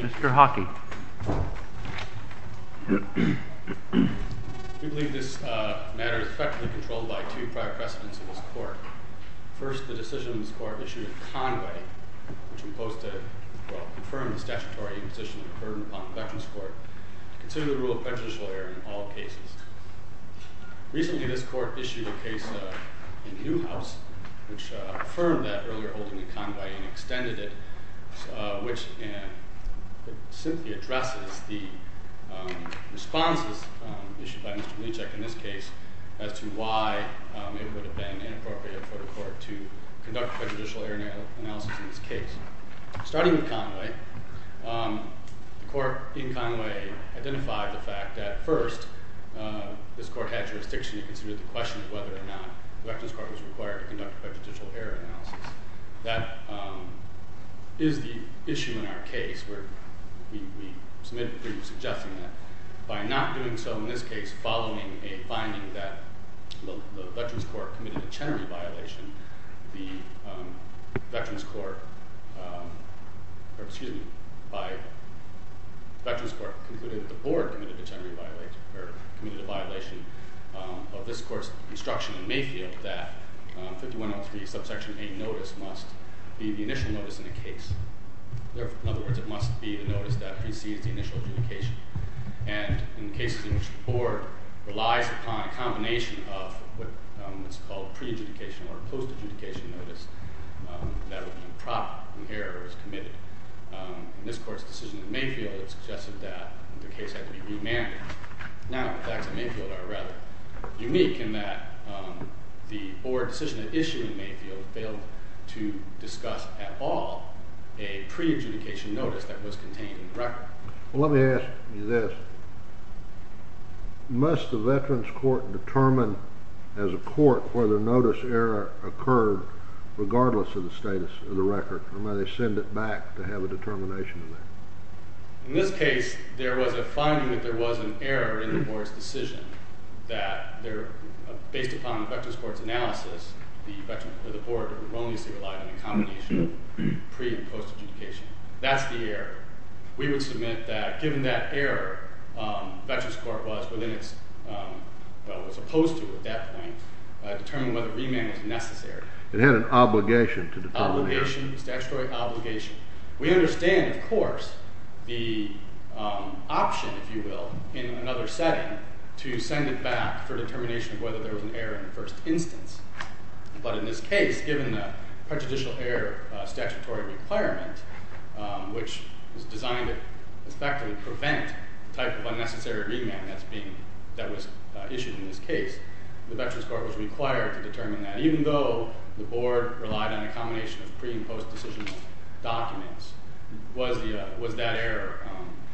Mr. Hockey We believe this matter is effectively controlled by two prior precedents of this court. First, the decision of this court issued in Conway, which imposed to, well, confirmed the statutory imposition of a burden upon the Veterans Court to consider the rule of prejudicial error in all cases. Recently, this court issued a case in Newhouse, which affirmed that earlier holding in Conway and extended it which simply addresses the responses issued by Mr. Mlechick in this case as to why it would have been inappropriate for the court to conduct prejudicial error analysis in this case. Starting with Conway, the court in Conway identified the fact that first, this court had jurisdiction to consider the question of whether or not the Veterans Court was required to conduct prejudicial error analysis. That is the issue in our case where we submitted a brief suggesting that by not doing so in this case following a finding that the Veterans Court committed a Chenery violation, the Veterans Court, or excuse me, by Veterans Court concluded that the board committed a Chenery violation, or committed a violation of this court's instruction in Mayfield that 5103 subsection 8 notice must be the initial notice in the case. In other words, it must be the notice that precedes the initial adjudication. And in cases in which the board relies upon a combination of what's called pre-adjudication or post-adjudication notice, this court's decision in Mayfield suggested that the case had to be remanded. Now, the facts in Mayfield are rather unique in that the board decision issued in Mayfield failed to discuss at all a pre-adjudication notice that was contained in the record. Let me ask you this. Must the Veterans Court determine as a court whether notice error occurred regardless of the status of the record? Or may they send it back to have a determination in there? In this case, there was a finding that there was an error in the board's decision that based upon the Veterans Court's analysis, the board erroneously relied on a combination of pre- and post-adjudication. That's the error. We would submit that given that error, Veterans Court was opposed to at that point determining whether remand was necessary. It had an obligation to determine the error. Obligation, statutory obligation. We understand, of course, the option, if you will, in another setting to send it back for determination of whether there was an error in the first instance. But in this case, given the prejudicial error statutory requirement, which was designed to effectively prevent the type of unnecessary remand that was issued in this case, the Veterans Court was required to determine that. Even though the board relied on a combination of pre- and post-decision documents, was that error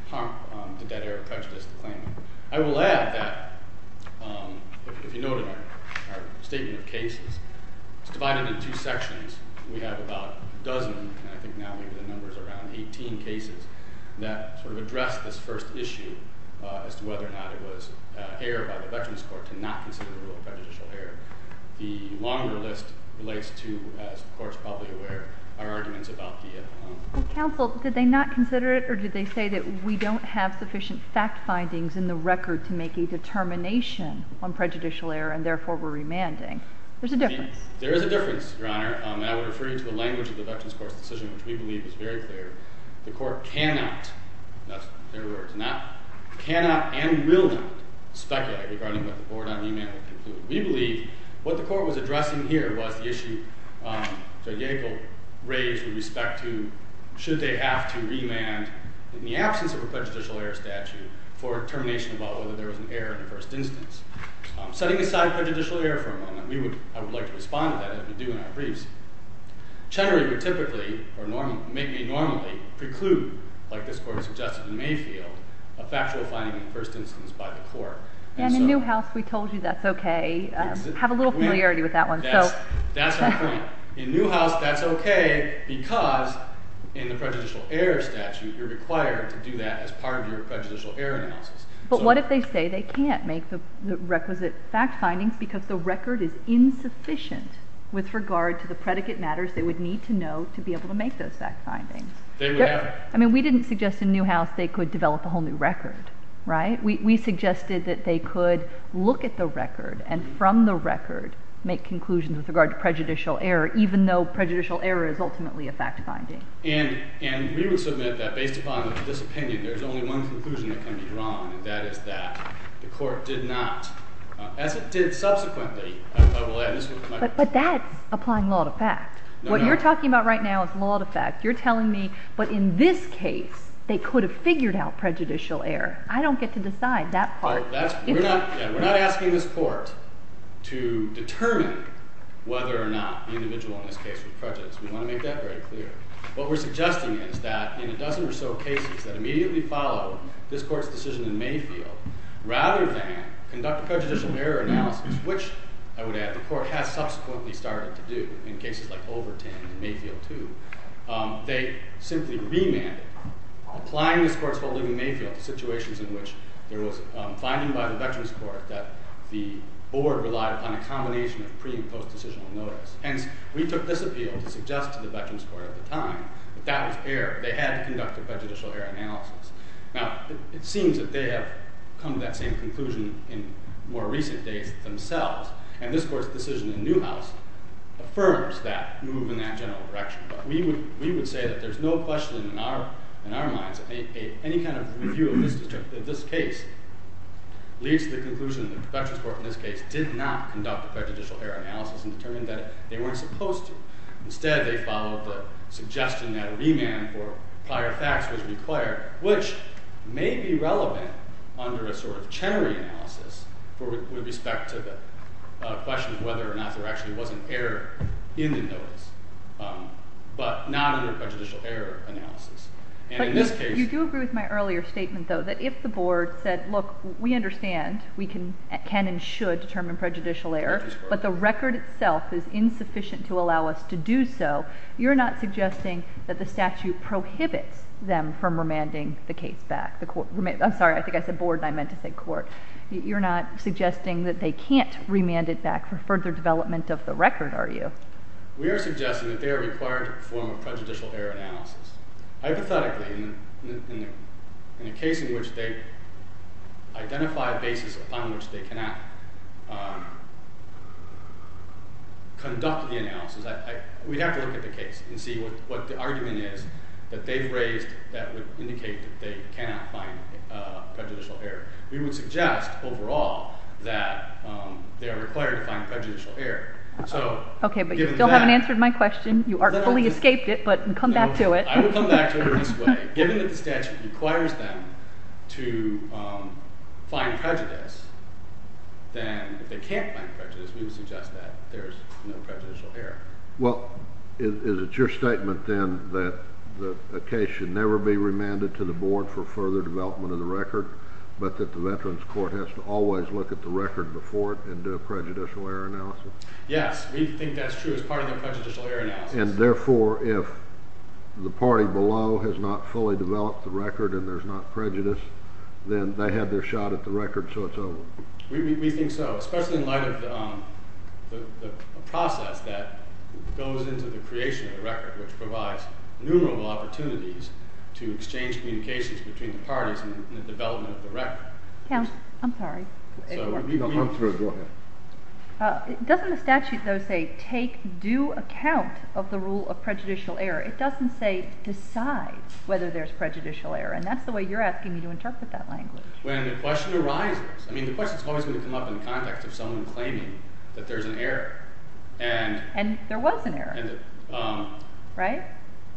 harmful? Did that error prejudice the claimant? I will add that if you noted our statement of cases, it's divided into two sections. We have about a dozen, and I think now we have the numbers around 18 cases that sort of address this first issue as to whether or not it was error by the Veterans Court to not consider the rule of prejudicial error. The longer list relates to, as the Court is probably aware, our arguments about the error. Counsel, did they not consider it, or did they say that we don't have sufficient fact findings in the record to make a determination on prejudicial error, and therefore we're remanding? There's a difference. There is a difference, Your Honor, and I would refer you to the language of the Veterans Court's decision, which we believe is very clear. The Court cannot, that's their words, cannot and will not speculate regarding what the board on remand will conclude. We believe what the Court was addressing here was the issue Judge Yackel raised with respect to should they have to remand in the absence of a prejudicial error statute for determination about whether there was an error in the first instance. Setting aside prejudicial error for a moment, I would like to respond to that as we do in our briefs. Chenery would typically, or maybe normally, preclude, like this Court has suggested in Mayfield, a factual finding in the first instance by the Court. And in Newhouse, we told you that's okay. Have a little familiarity with that one. That's our point. In Newhouse, that's okay because in the prejudicial error statute, you're required to do that as part of your prejudicial error analysis. But what if they say they can't make the requisite fact findings because the record is insufficient with regard to the predicate matters they would need to know to be able to make those fact findings? They would have to. I mean, we didn't suggest in Newhouse they could develop a whole new record, right? We suggested that they could look at the record and from the record make conclusions with regard to prejudicial error, even though prejudicial error is ultimately a fact finding. And we would submit that based upon this opinion, there's only one conclusion that can be drawn, and that is that the Court did not, as it did subsequently, I will add this one to my brief. But that's applying law to fact. What you're talking about right now is law to fact. You're telling me, but in this case, they could have figured out prejudicial error. I don't get to decide that part. We're not asking this Court to determine whether or not the individual in this case was prejudiced. We want to make that very clear. What we're suggesting is that in a dozen or so cases that immediately follow this Court's decision in Mayfield, rather than conduct a prejudicial error analysis, which I would add the Court has subsequently started to do in cases like Overton and Mayfield 2, they simply remanded applying this Court's holding in Mayfield to situations in which there was finding by the Veterans Court that the Board relied upon a combination of pre- and post-decisional notice. Hence, we took this appeal to suggest to the Veterans Court at the time that that was error. They had to conduct a prejudicial error analysis. Now, it seems that they have come to that same conclusion in more recent days themselves, and this Court's decision in Newhouse affirms that move in that general direction. But we would say that there's no question in our minds that any kind of review of this case leads to the conclusion that the Veterans Court in this case did not conduct a prejudicial error analysis and determined that they weren't supposed to. Instead, they followed the suggestion that a remand for prior facts was required, which may be relevant under a sort of Chenery analysis with respect to the question of whether or not there actually was an error in the notice. But not under a prejudicial error analysis. And in this case... But you do agree with my earlier statement, though, that if the Board said, look, we understand we can and should determine prejudicial error, but the record itself is insufficient to allow us to do so, you're not suggesting that the statute prohibits them from remanding the case back. I'm sorry, I think I said Board, and I meant to say Court. You're not suggesting that they can't remand it back for further development of the record, are you? We are suggesting that they are required to perform a prejudicial error analysis. Hypothetically, in a case in which they identify a basis upon which they cannot conduct the analysis, we'd have to look at the case and see what the argument is that they've raised that would indicate that they cannot find prejudicial error. We would suggest, overall, that they are required to find prejudicial error. Okay, but you still haven't answered my question. You artfully escaped it, but come back to it. I will come back to it this way. Given that the statute requires them to find prejudice, then if they can't find prejudice, we would suggest that there's no prejudicial error. Well, is it your statement, then, that a case should never be remanded to the Board for further development of the record, but that the Veterans Court has to always look at the record before it and do a prejudicial error analysis? Yes, we think that's true as part of the prejudicial error analysis. And therefore, if the party below has not fully developed the record and there's not prejudice, then they have their shot at the record, so it's over. We think so, especially in light of the process that goes into the creation of the record, which provides numerable opportunities to exchange communications between the parties in the development of the record. I'm sorry. Go ahead. Doesn't the statute, though, say take due account of the rule of prejudicial error? It doesn't say decide whether there's prejudicial error, and that's the way you're asking me to interpret that language. When the question arises. I mean, the question's always going to come up in the context of someone claiming that there's an error. And there was an error. Right?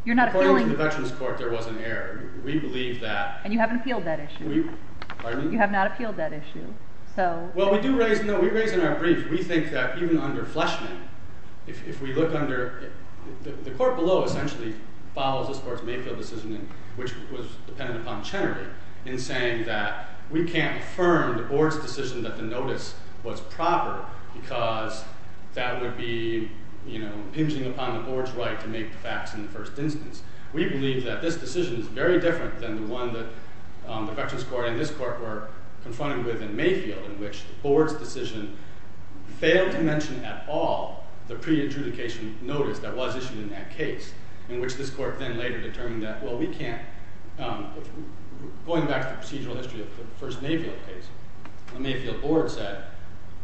According to the Veterans Court, there was an error. We believe that. And you haven't appealed that issue. Pardon me? You have not appealed that issue. Well, we do raise, no, we raise in our brief, we think that even under Fleshman, if we look under, the court below essentially follows this court's Mayfield decision, which was dependent upon Chenardy, in saying that we can't affirm the board's decision that the notice was proper because that would be, you know, impinging upon the board's right to make the facts in the first instance. We believe that this decision is very different than the one that the Veterans Court and this court were confronted with in Mayfield, in which the board's decision failed to mention at all the pre-adjudication notice that was issued in that case, in which this court then later determined that, well, we can't, going back to the procedural history of the first Mayfield case, the Mayfield board said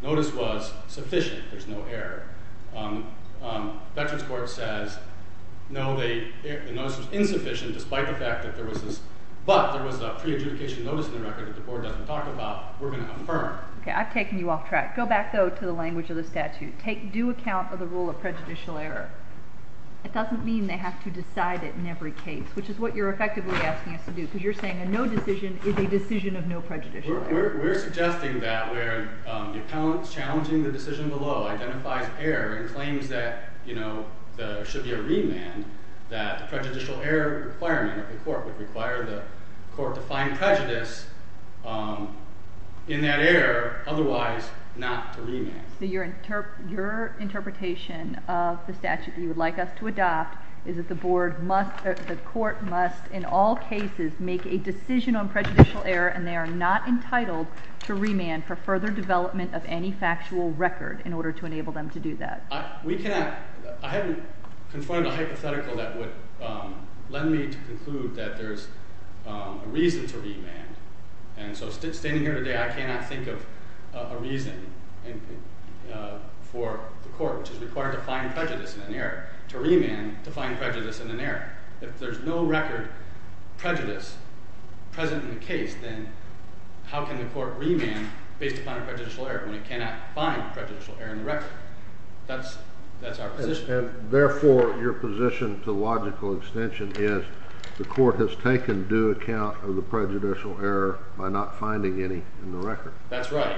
notice was sufficient, there's no error. Veterans Court says, no, the notice was insufficient despite the fact that there was this, but there was a pre-adjudication notice in the record that the board doesn't talk about, we're going to affirm. Okay, I've taken you off track. Go back, though, to the language of the statute. Take due account of the rule of prejudicial error. It doesn't mean they have to decide it in every case, which is what you're effectively asking us to do, because you're saying a no decision is a decision of no prejudicial error. We're suggesting that where the appellant's challenging the decision below identifies error and claims that, you know, there should be a remand, that the prejudicial error requirement of the court would require the court to find prejudice in that error, otherwise not to remand. So your interpretation of the statute that you would like us to adopt is that the board must, the court must in all cases make a decision on prejudicial error and they are not entitled to remand for further development of any factual record in order to enable them to do that. We cannot, I haven't confronted a hypothetical that would lend me to conclude that there's a reason to remand. And so standing here today, I cannot think of a reason for the court, which is required to find prejudice in an error, to remand to find prejudice in an error. If there's no record prejudice present in the case, then how can the court remand based upon a prejudicial error when it cannot find prejudicial error in the record? That's our position. And therefore, your position to logical extension is the court has taken due account of the prejudicial error by not finding any in the record. That's right.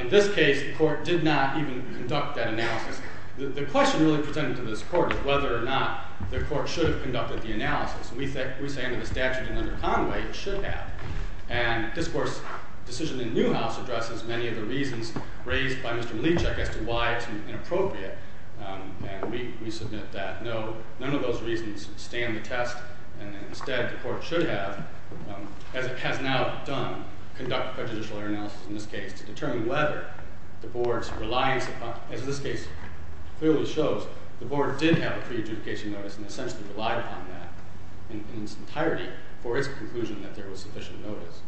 In this case, the court did not even conduct that analysis. The question really presented to this court is whether or not the court should have conducted the analysis. We say under the statute and under Conway, it should have. And this court's decision in Newhouse addresses many of the reasons raised by Mr. Mlicek as to why it's inappropriate. And we submit that no, none of those reasons stand the test. And instead, the court should have, as it has now done, conduct prejudicial error analysis in this case to determine whether the board's reliance upon, as this case clearly shows, the board did have a pre-adjudication notice and essentially relied upon that in its entirety for its conclusion that there was sufficient notice.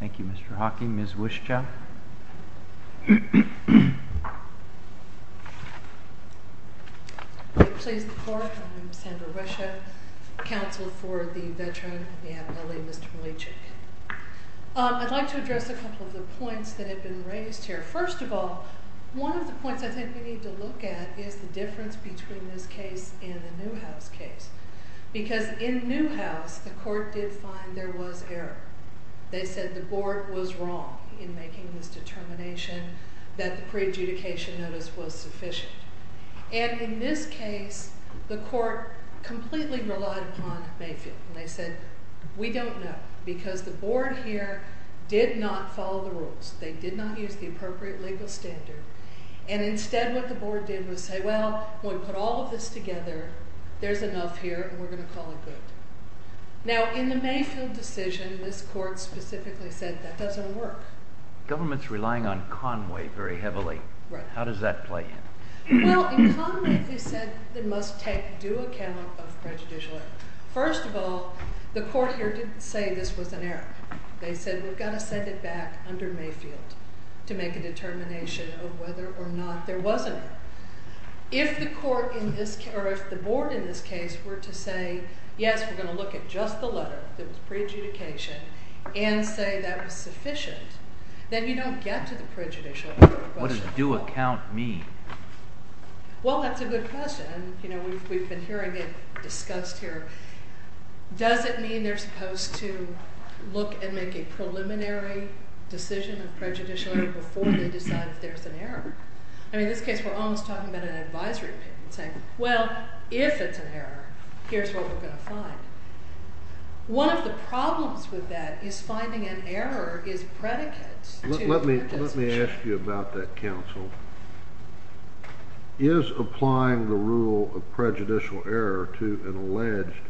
Thank you, Mr. Hawking. Ms. Wischow? Please, the court. I'm Sandra Wischow, counsel for the veteran, the abbey, Mr. Mlicek. I'd like to address a couple of the points that have been raised here. First of all, one of the points I think we need to look at is the difference between this case and the Newhouse case. Because in Newhouse, the court did find there was error. They said the board was wrong in making this determination that the pre-adjudication notice was sufficient. And in this case, the court completely relied upon Mayfield. And they said, we don't know, because the board here did not follow the rules. They did not use the appropriate legal standard. And instead, what the board did was say, well, when we put all of this together, there's enough here, and we're going to call it good. Now, in the Mayfield decision, this court specifically said that doesn't work. Government's relying on Conway very heavily. How does that play in? Well, in Conway, they said they must take due account of prejudicial error. First of all, the court here didn't say this was an error. They said, we've got to set it back under Mayfield to make a determination of whether or not there was an error. If the board in this case were to say, yes, we're going to look at just the letter that was pre-adjudication, and say that was sufficient, then you don't get to the prejudicial error question. What does due account mean? Well, that's a good question. We've been hearing it discussed here. Does it mean they're supposed to look and make a preliminary decision of prejudicial error before they decide if there's an error? I mean, in this case, we're almost talking about an advisory opinion, saying, well, if it's an error, here's what we're going to find. One of the problems with that is finding an error is predicate to a decision. Let me ask you about that, counsel. Is applying the rule of prejudicial error to an alleged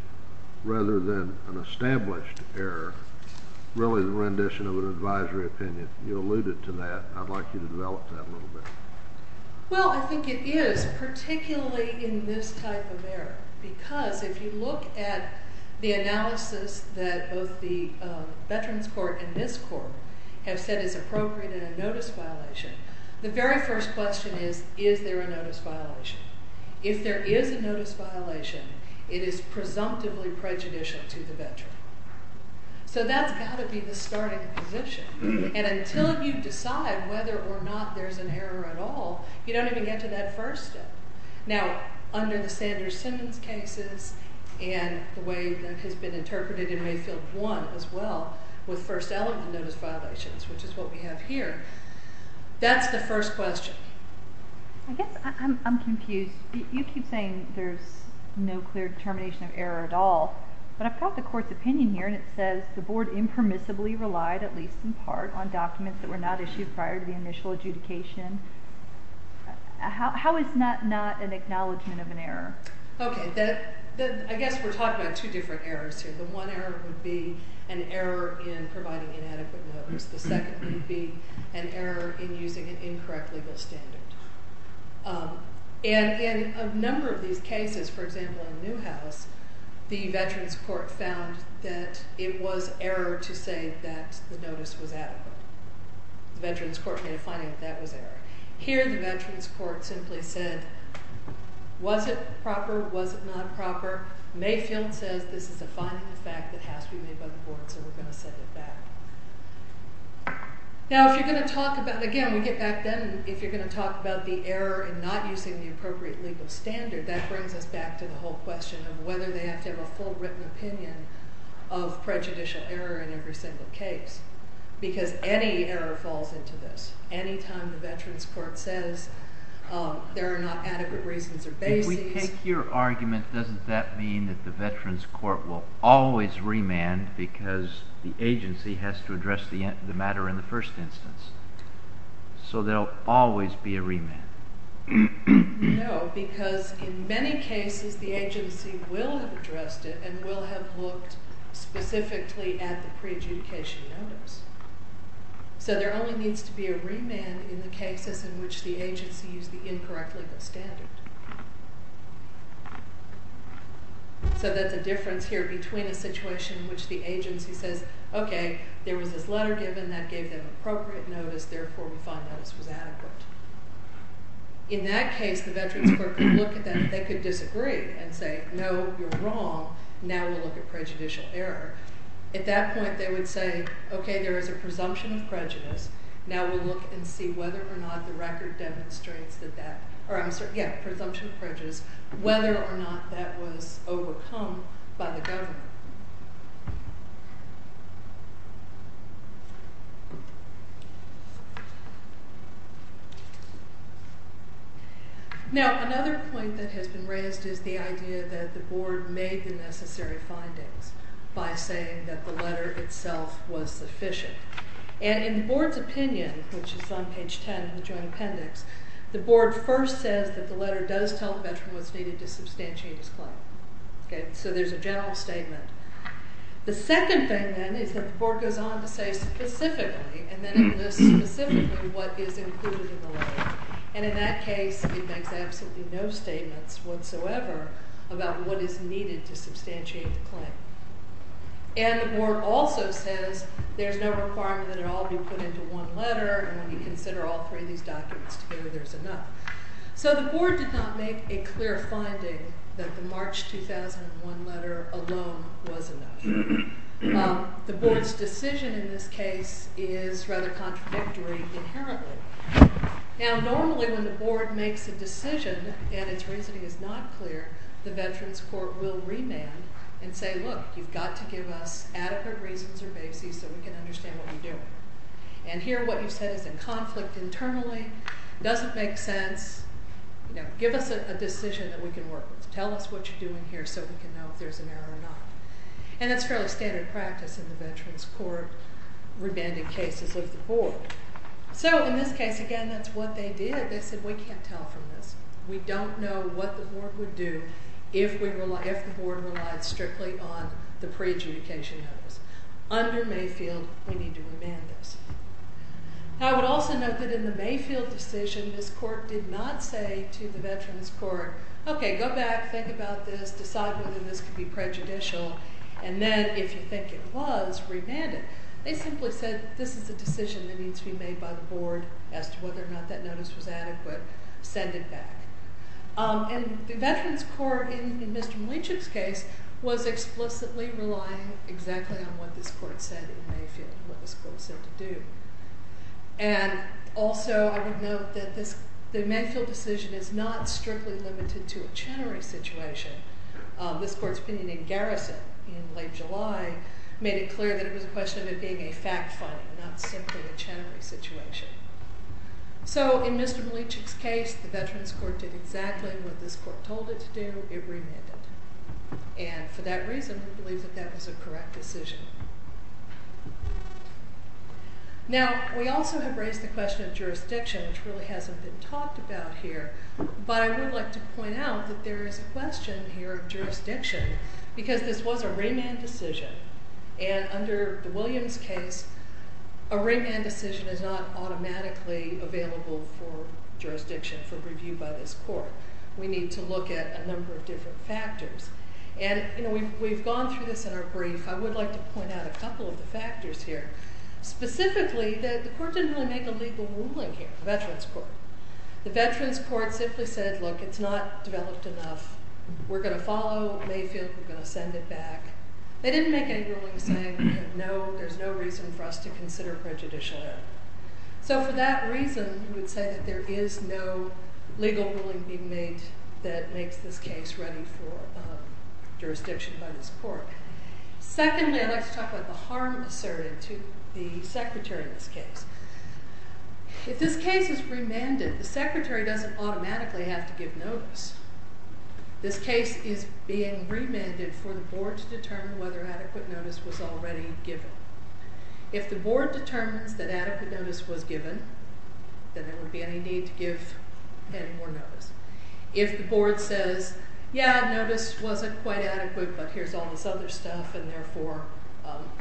rather than an established error really the rendition of an advisory opinion? You alluded to that, and I'd like you to develop that a little bit. Well, I think it is, particularly in this type of error, because if you look at the analysis that both the Veterans Court and this court have said is appropriate in a notice violation, the very first question is, is there a notice violation? If there is a notice violation, it is presumptively prejudicial to the veteran. So that's got to be the starting position. And until you decide whether or not there's an error at all, you don't even get to that first step. Now, under the Sanders-Simmons cases and the way that has been interpreted in Mayfield 1 as well with first element notice violations, which is what we have here, that's the first question. I guess I'm confused. You keep saying there's no clear determination of error at all, but I've got the court's opinion here, and it says the board impermissibly relied, at least in part, on documents that were not issued prior to the initial adjudication. How is that not an acknowledgment of an error? Okay. I guess we're talking about two different errors here. The one error would be an error in providing inadequate notice. The second would be an error in using an incorrect legal standard. And in a number of these cases, for example in Newhouse, the veterans court found that it was error to say that the notice was adequate. The veterans court made a finding that that was error. Here the veterans court simply said, was it proper, was it not proper? Mayfield says this is a finding of fact that has to be made by the board, so we're going to set it back. Now if you're going to talk about, again we get back then, if you're going to talk about the error in not using the appropriate legal standard, that brings us back to the whole question of whether they have to have a full written opinion of prejudicial error in every single case, because any error falls into this. Any time the veterans court says there are not adequate reasons or bases. If I take your argument, doesn't that mean that the veterans court will always remand because the agency has to address the matter in the first instance? So there will always be a remand? No, because in many cases the agency will have addressed it and will have looked specifically at the pre-adjudication notice. So there only needs to be a remand in the cases in which the agency used the incorrect legal standard. So that's a difference here between a situation in which the agency says, okay, there was this letter given that gave them appropriate notice, therefore we find that this was adequate. In that case the veterans court could look at that and they could disagree and say, no, you're wrong, now we'll look at prejudicial error. At that point they would say, okay, there is a presumption of prejudice, now we'll look and see whether or not the record demonstrates that that, or I'm sorry, yeah, presumption of prejudice, whether or not that was overcome by the government. Now another point that has been raised is the idea that the board made the necessary findings by saying that the letter itself was sufficient. And in the board's opinion, which is on page 10 in the joint appendix, the board first says that the letter does tell the veteran what's needed to substantiate his claim. So there's a general statement. The second thing then is that the board goes on to say specifically, and then it lists specifically what is included in the letter. And in that case it makes absolutely no statements whatsoever about what is needed to substantiate the claim. And the board also says there's no requirement that it all be put into one letter, and when you consider all three of these documents together there's enough. So the board did not make a clear finding that the March 2001 letter alone was enough. The board's decision in this case is rather contradictory inherently. Now normally when the board makes a decision and its reasoning is not clear, the veterans court will remand and say, look, you've got to give us adequate reasons or bases so we can understand what you're doing. And here what you said is in conflict internally, doesn't make sense, you know, give us a decision that we can work with. Tell us what you're doing here so we can know if there's an error or not. And that's fairly standard practice in the veterans court remanding cases of the board. So in this case, again, that's what they did. They said we can't tell from this. We don't know what the board would do if the board relied strictly on the pre-adjudication notice. Under Mayfield we need to remand this. I would also note that in the Mayfield decision this court did not say to the veterans court, okay, go back, think about this, decide whether this could be prejudicial, and then if you think it was, remand it. They simply said this is a decision that needs to be made by the board as to whether or not that notice was adequate. Send it back. And the veterans court in Mr. Malichuk's case was explicitly relying exactly on what this court said in Mayfield, what this court said to do. And also I would note that the Mayfield decision is not strictly limited to a Chenery situation. This court's opinion in Garrison in late July made it clear that it was a question of it being a fact finding, not simply a Chenery situation. So in Mr. Malichuk's case the veterans court did exactly what this court told it to do, it remanded. And for that reason we believe that that was a correct decision. Now we also have raised the question of jurisdiction, which really hasn't been talked about here, but I would like to point out that there is a question here of jurisdiction because this was a remand decision. And under the Williams case, a remand decision is not automatically available for jurisdiction for review by this court. We need to look at a number of different factors. And we've gone through this in our brief. I would like to point out a couple of the factors here. Specifically, the court didn't really make a legal ruling here, the veterans court. The veterans court simply said, look, it's not developed enough. We're going to follow Mayfield. We're going to send it back. They didn't make any ruling saying there's no reason for us to consider prejudicial error. So for that reason, we would say that there is no legal ruling being made that makes this case ready for jurisdiction by this court. Secondly, I'd like to talk about the harm asserted to the secretary in this case. If this case is remanded, the secretary doesn't automatically have to give notice. This case is being remanded for the board to determine whether adequate notice was already given. If the board determines that adequate notice was given, then there would be any need to give any more notice. If the board says, yeah, notice wasn't quite adequate, but here's all this other stuff, and therefore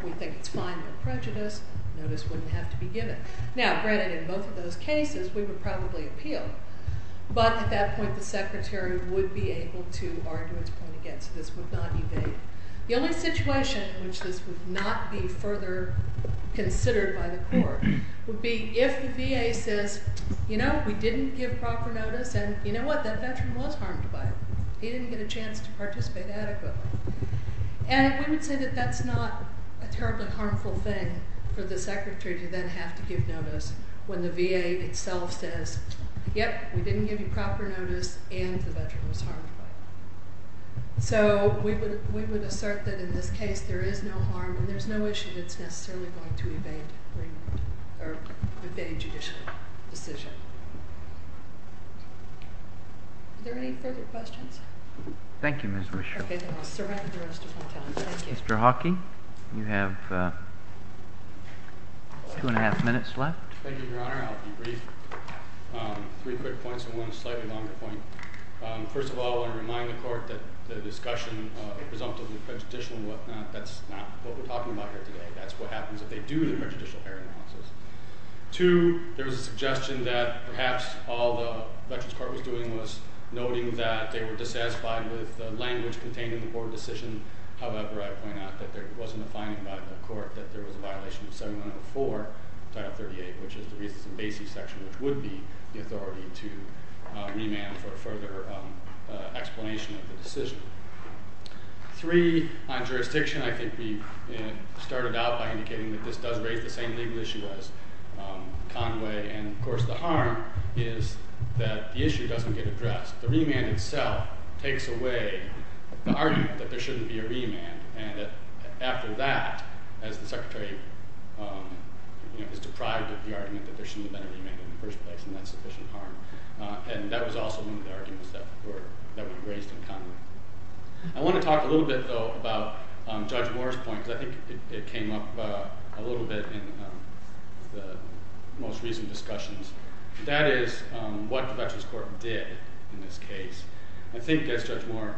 we think it's fine, no prejudice, notice wouldn't have to be given. Now, granted, in both of those cases, we would probably appeal. But at that point, the secretary would be able to argue its point against it. This would not evade. The only situation in which this would not be further considered by the court would be if the VA says, you know, we didn't give proper notice, and you know what? That veteran was harmed by it. He didn't get a chance to participate adequately. And we would say that that's not a terribly harmful thing for the secretary to then have to give notice when the VA itself says, yep, we didn't give you proper notice, and the veteran was harmed by it. So we would assert that in this case, there is no harm, and there's no issue that's necessarily going to evade remand or evade judicial decision. Are there any further questions? Thank you, Ms. Rochelle. OK, then I'll survive the rest of my time. Thank you. Mr. Hockey, you have two and a half minutes left. Thank you, Your Honor. I'll be brief. Three quick points and one slightly longer point. First of all, I want to remind the court that the discussion of presumptively prejudicial and whatnot, that's not what we're talking about here today. That's what happens if they do the prejudicial hearing process. Two, there was a suggestion that perhaps all the veterans' court was doing was noting that they were dissatisfied with the language contained in the court decision. However, I point out that there wasn't a finding by the court that there was a violation of 7104, Title 38, which is the Reasons and Basis section, which would be the authority to remand for further explanation of the decision. Three, on jurisdiction, I think we started out by indicating that this does raise the same legal issue as Conway, and of course the harm is that the issue doesn't get addressed. The remand itself takes away the argument that there shouldn't be a remand, and after that, as the Secretary is deprived of the argument that there shouldn't have been a remand in the first place, and that's sufficient harm. And that was also one of the arguments that were raised in Conway. I want to talk a little bit, though, about Judge Moore's point, because I think it came up a little bit in the most recent discussions. That is what the veterans' court did in this case. I think, as Judge Moore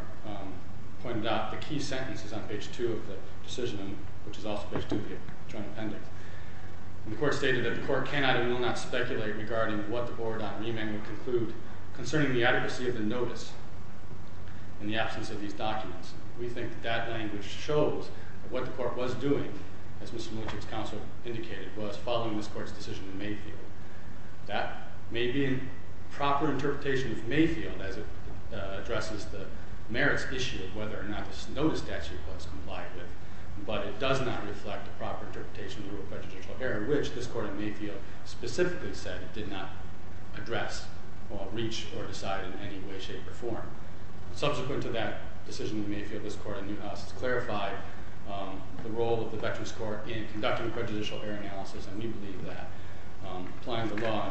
pointed out, the key sentence is on page 2 of the decision, which is also page 2 of the Joint Appendix. The court stated that the court cannot and will not speculate regarding what the board on remand would conclude concerning the adequacy of the notice in the absence of these documents. We think that language shows what the court was doing, as Mr. Miletich's counsel indicated, was following this court's decision in Mayfield. That may be a proper interpretation of Mayfield as it addresses the merits issue of whether or not this notice statute was complied with, but it does not reflect a proper interpretation of a prejudicial error, which this court in Mayfield specifically said it did not address or reach or decide in any way, shape, or form. Subsequent to that decision in Mayfield, this court in Newhouse has clarified the role of the veterans' court in conducting a prejudicial error analysis, and we believe that applying the law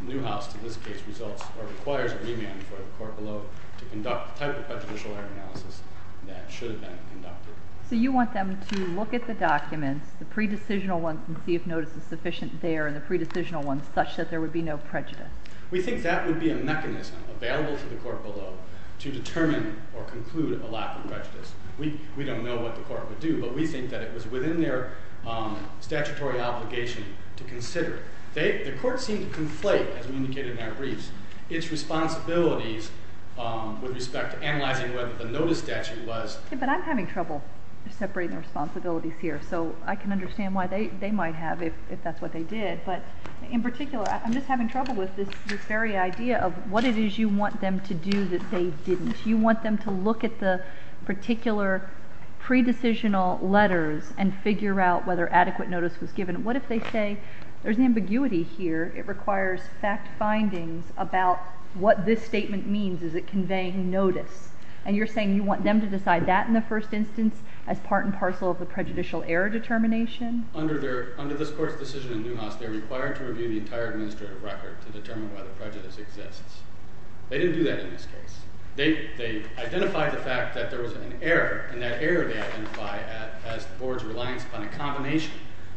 in Newhouse to this case requires a remand for the court below to conduct the type of prejudicial error analysis that should have been conducted. So you want them to look at the documents, the pre-decisional ones, and see if notice is sufficient there, and the pre-decisional ones such that there would be no prejudice. We think that would be a mechanism available to the court below to determine or conclude a lack of prejudice. We don't know what the court would do, but we think that it was within their statutory obligation to consider it. The court seemed to conflate, as we indicated in our briefs, its responsibilities with respect to analyzing whether the notice statute was— Okay, but I'm having trouble separating the responsibilities here, so I can understand why they might have if that's what they did. But in particular, I'm just having trouble with this very idea of what it is you want them to do that they didn't. You want them to look at the particular pre-decisional letters and figure out whether adequate notice was given. What if they say there's an ambiguity here, it requires fact findings about what this statement means, is it conveying notice? And you're saying you want them to decide that in the first instance as part and parcel of the prejudicial error determination? Under this court's decision in Newhouse, they're required to review the entire administrative record to determine whether prejudice exists. They didn't do that in this case. They identified the fact that there was an error, and that error they identified as the board's reliance upon a combination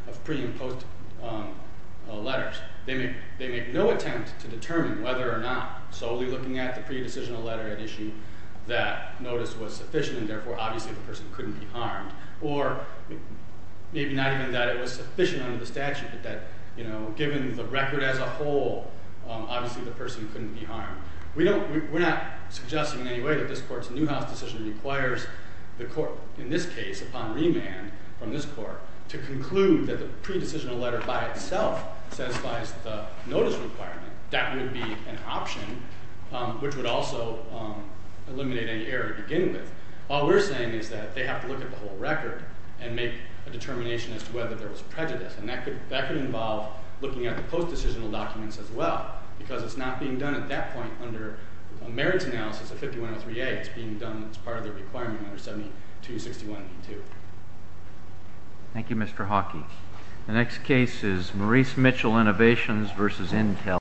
of pre- and post-letters. They make no attempt to determine whether or not solely looking at the pre-decisional letter at issue that notice was sufficient, and therefore obviously the person couldn't be harmed, or maybe not even that it was sufficient under the statute, but that given the record as a whole, obviously the person couldn't be harmed. We're not suggesting in any way that this court's Newhouse decision requires the court, in this case, upon remand from this court, to conclude that the pre-decisional letter by itself satisfies the notice requirement. That would be an option, which would also eliminate any error to begin with. All we're saying is that they have to look at the whole record and make a determination as to whether there was prejudice, and that could involve looking at the post-decisional documents as well, because it's not being done at that point under a merits analysis of 5103A. It's being done as part of their requirement under 7261E2. Thank you, Mr. Hawkey. The next case is Maurice Mitchell Innovations v. Intel.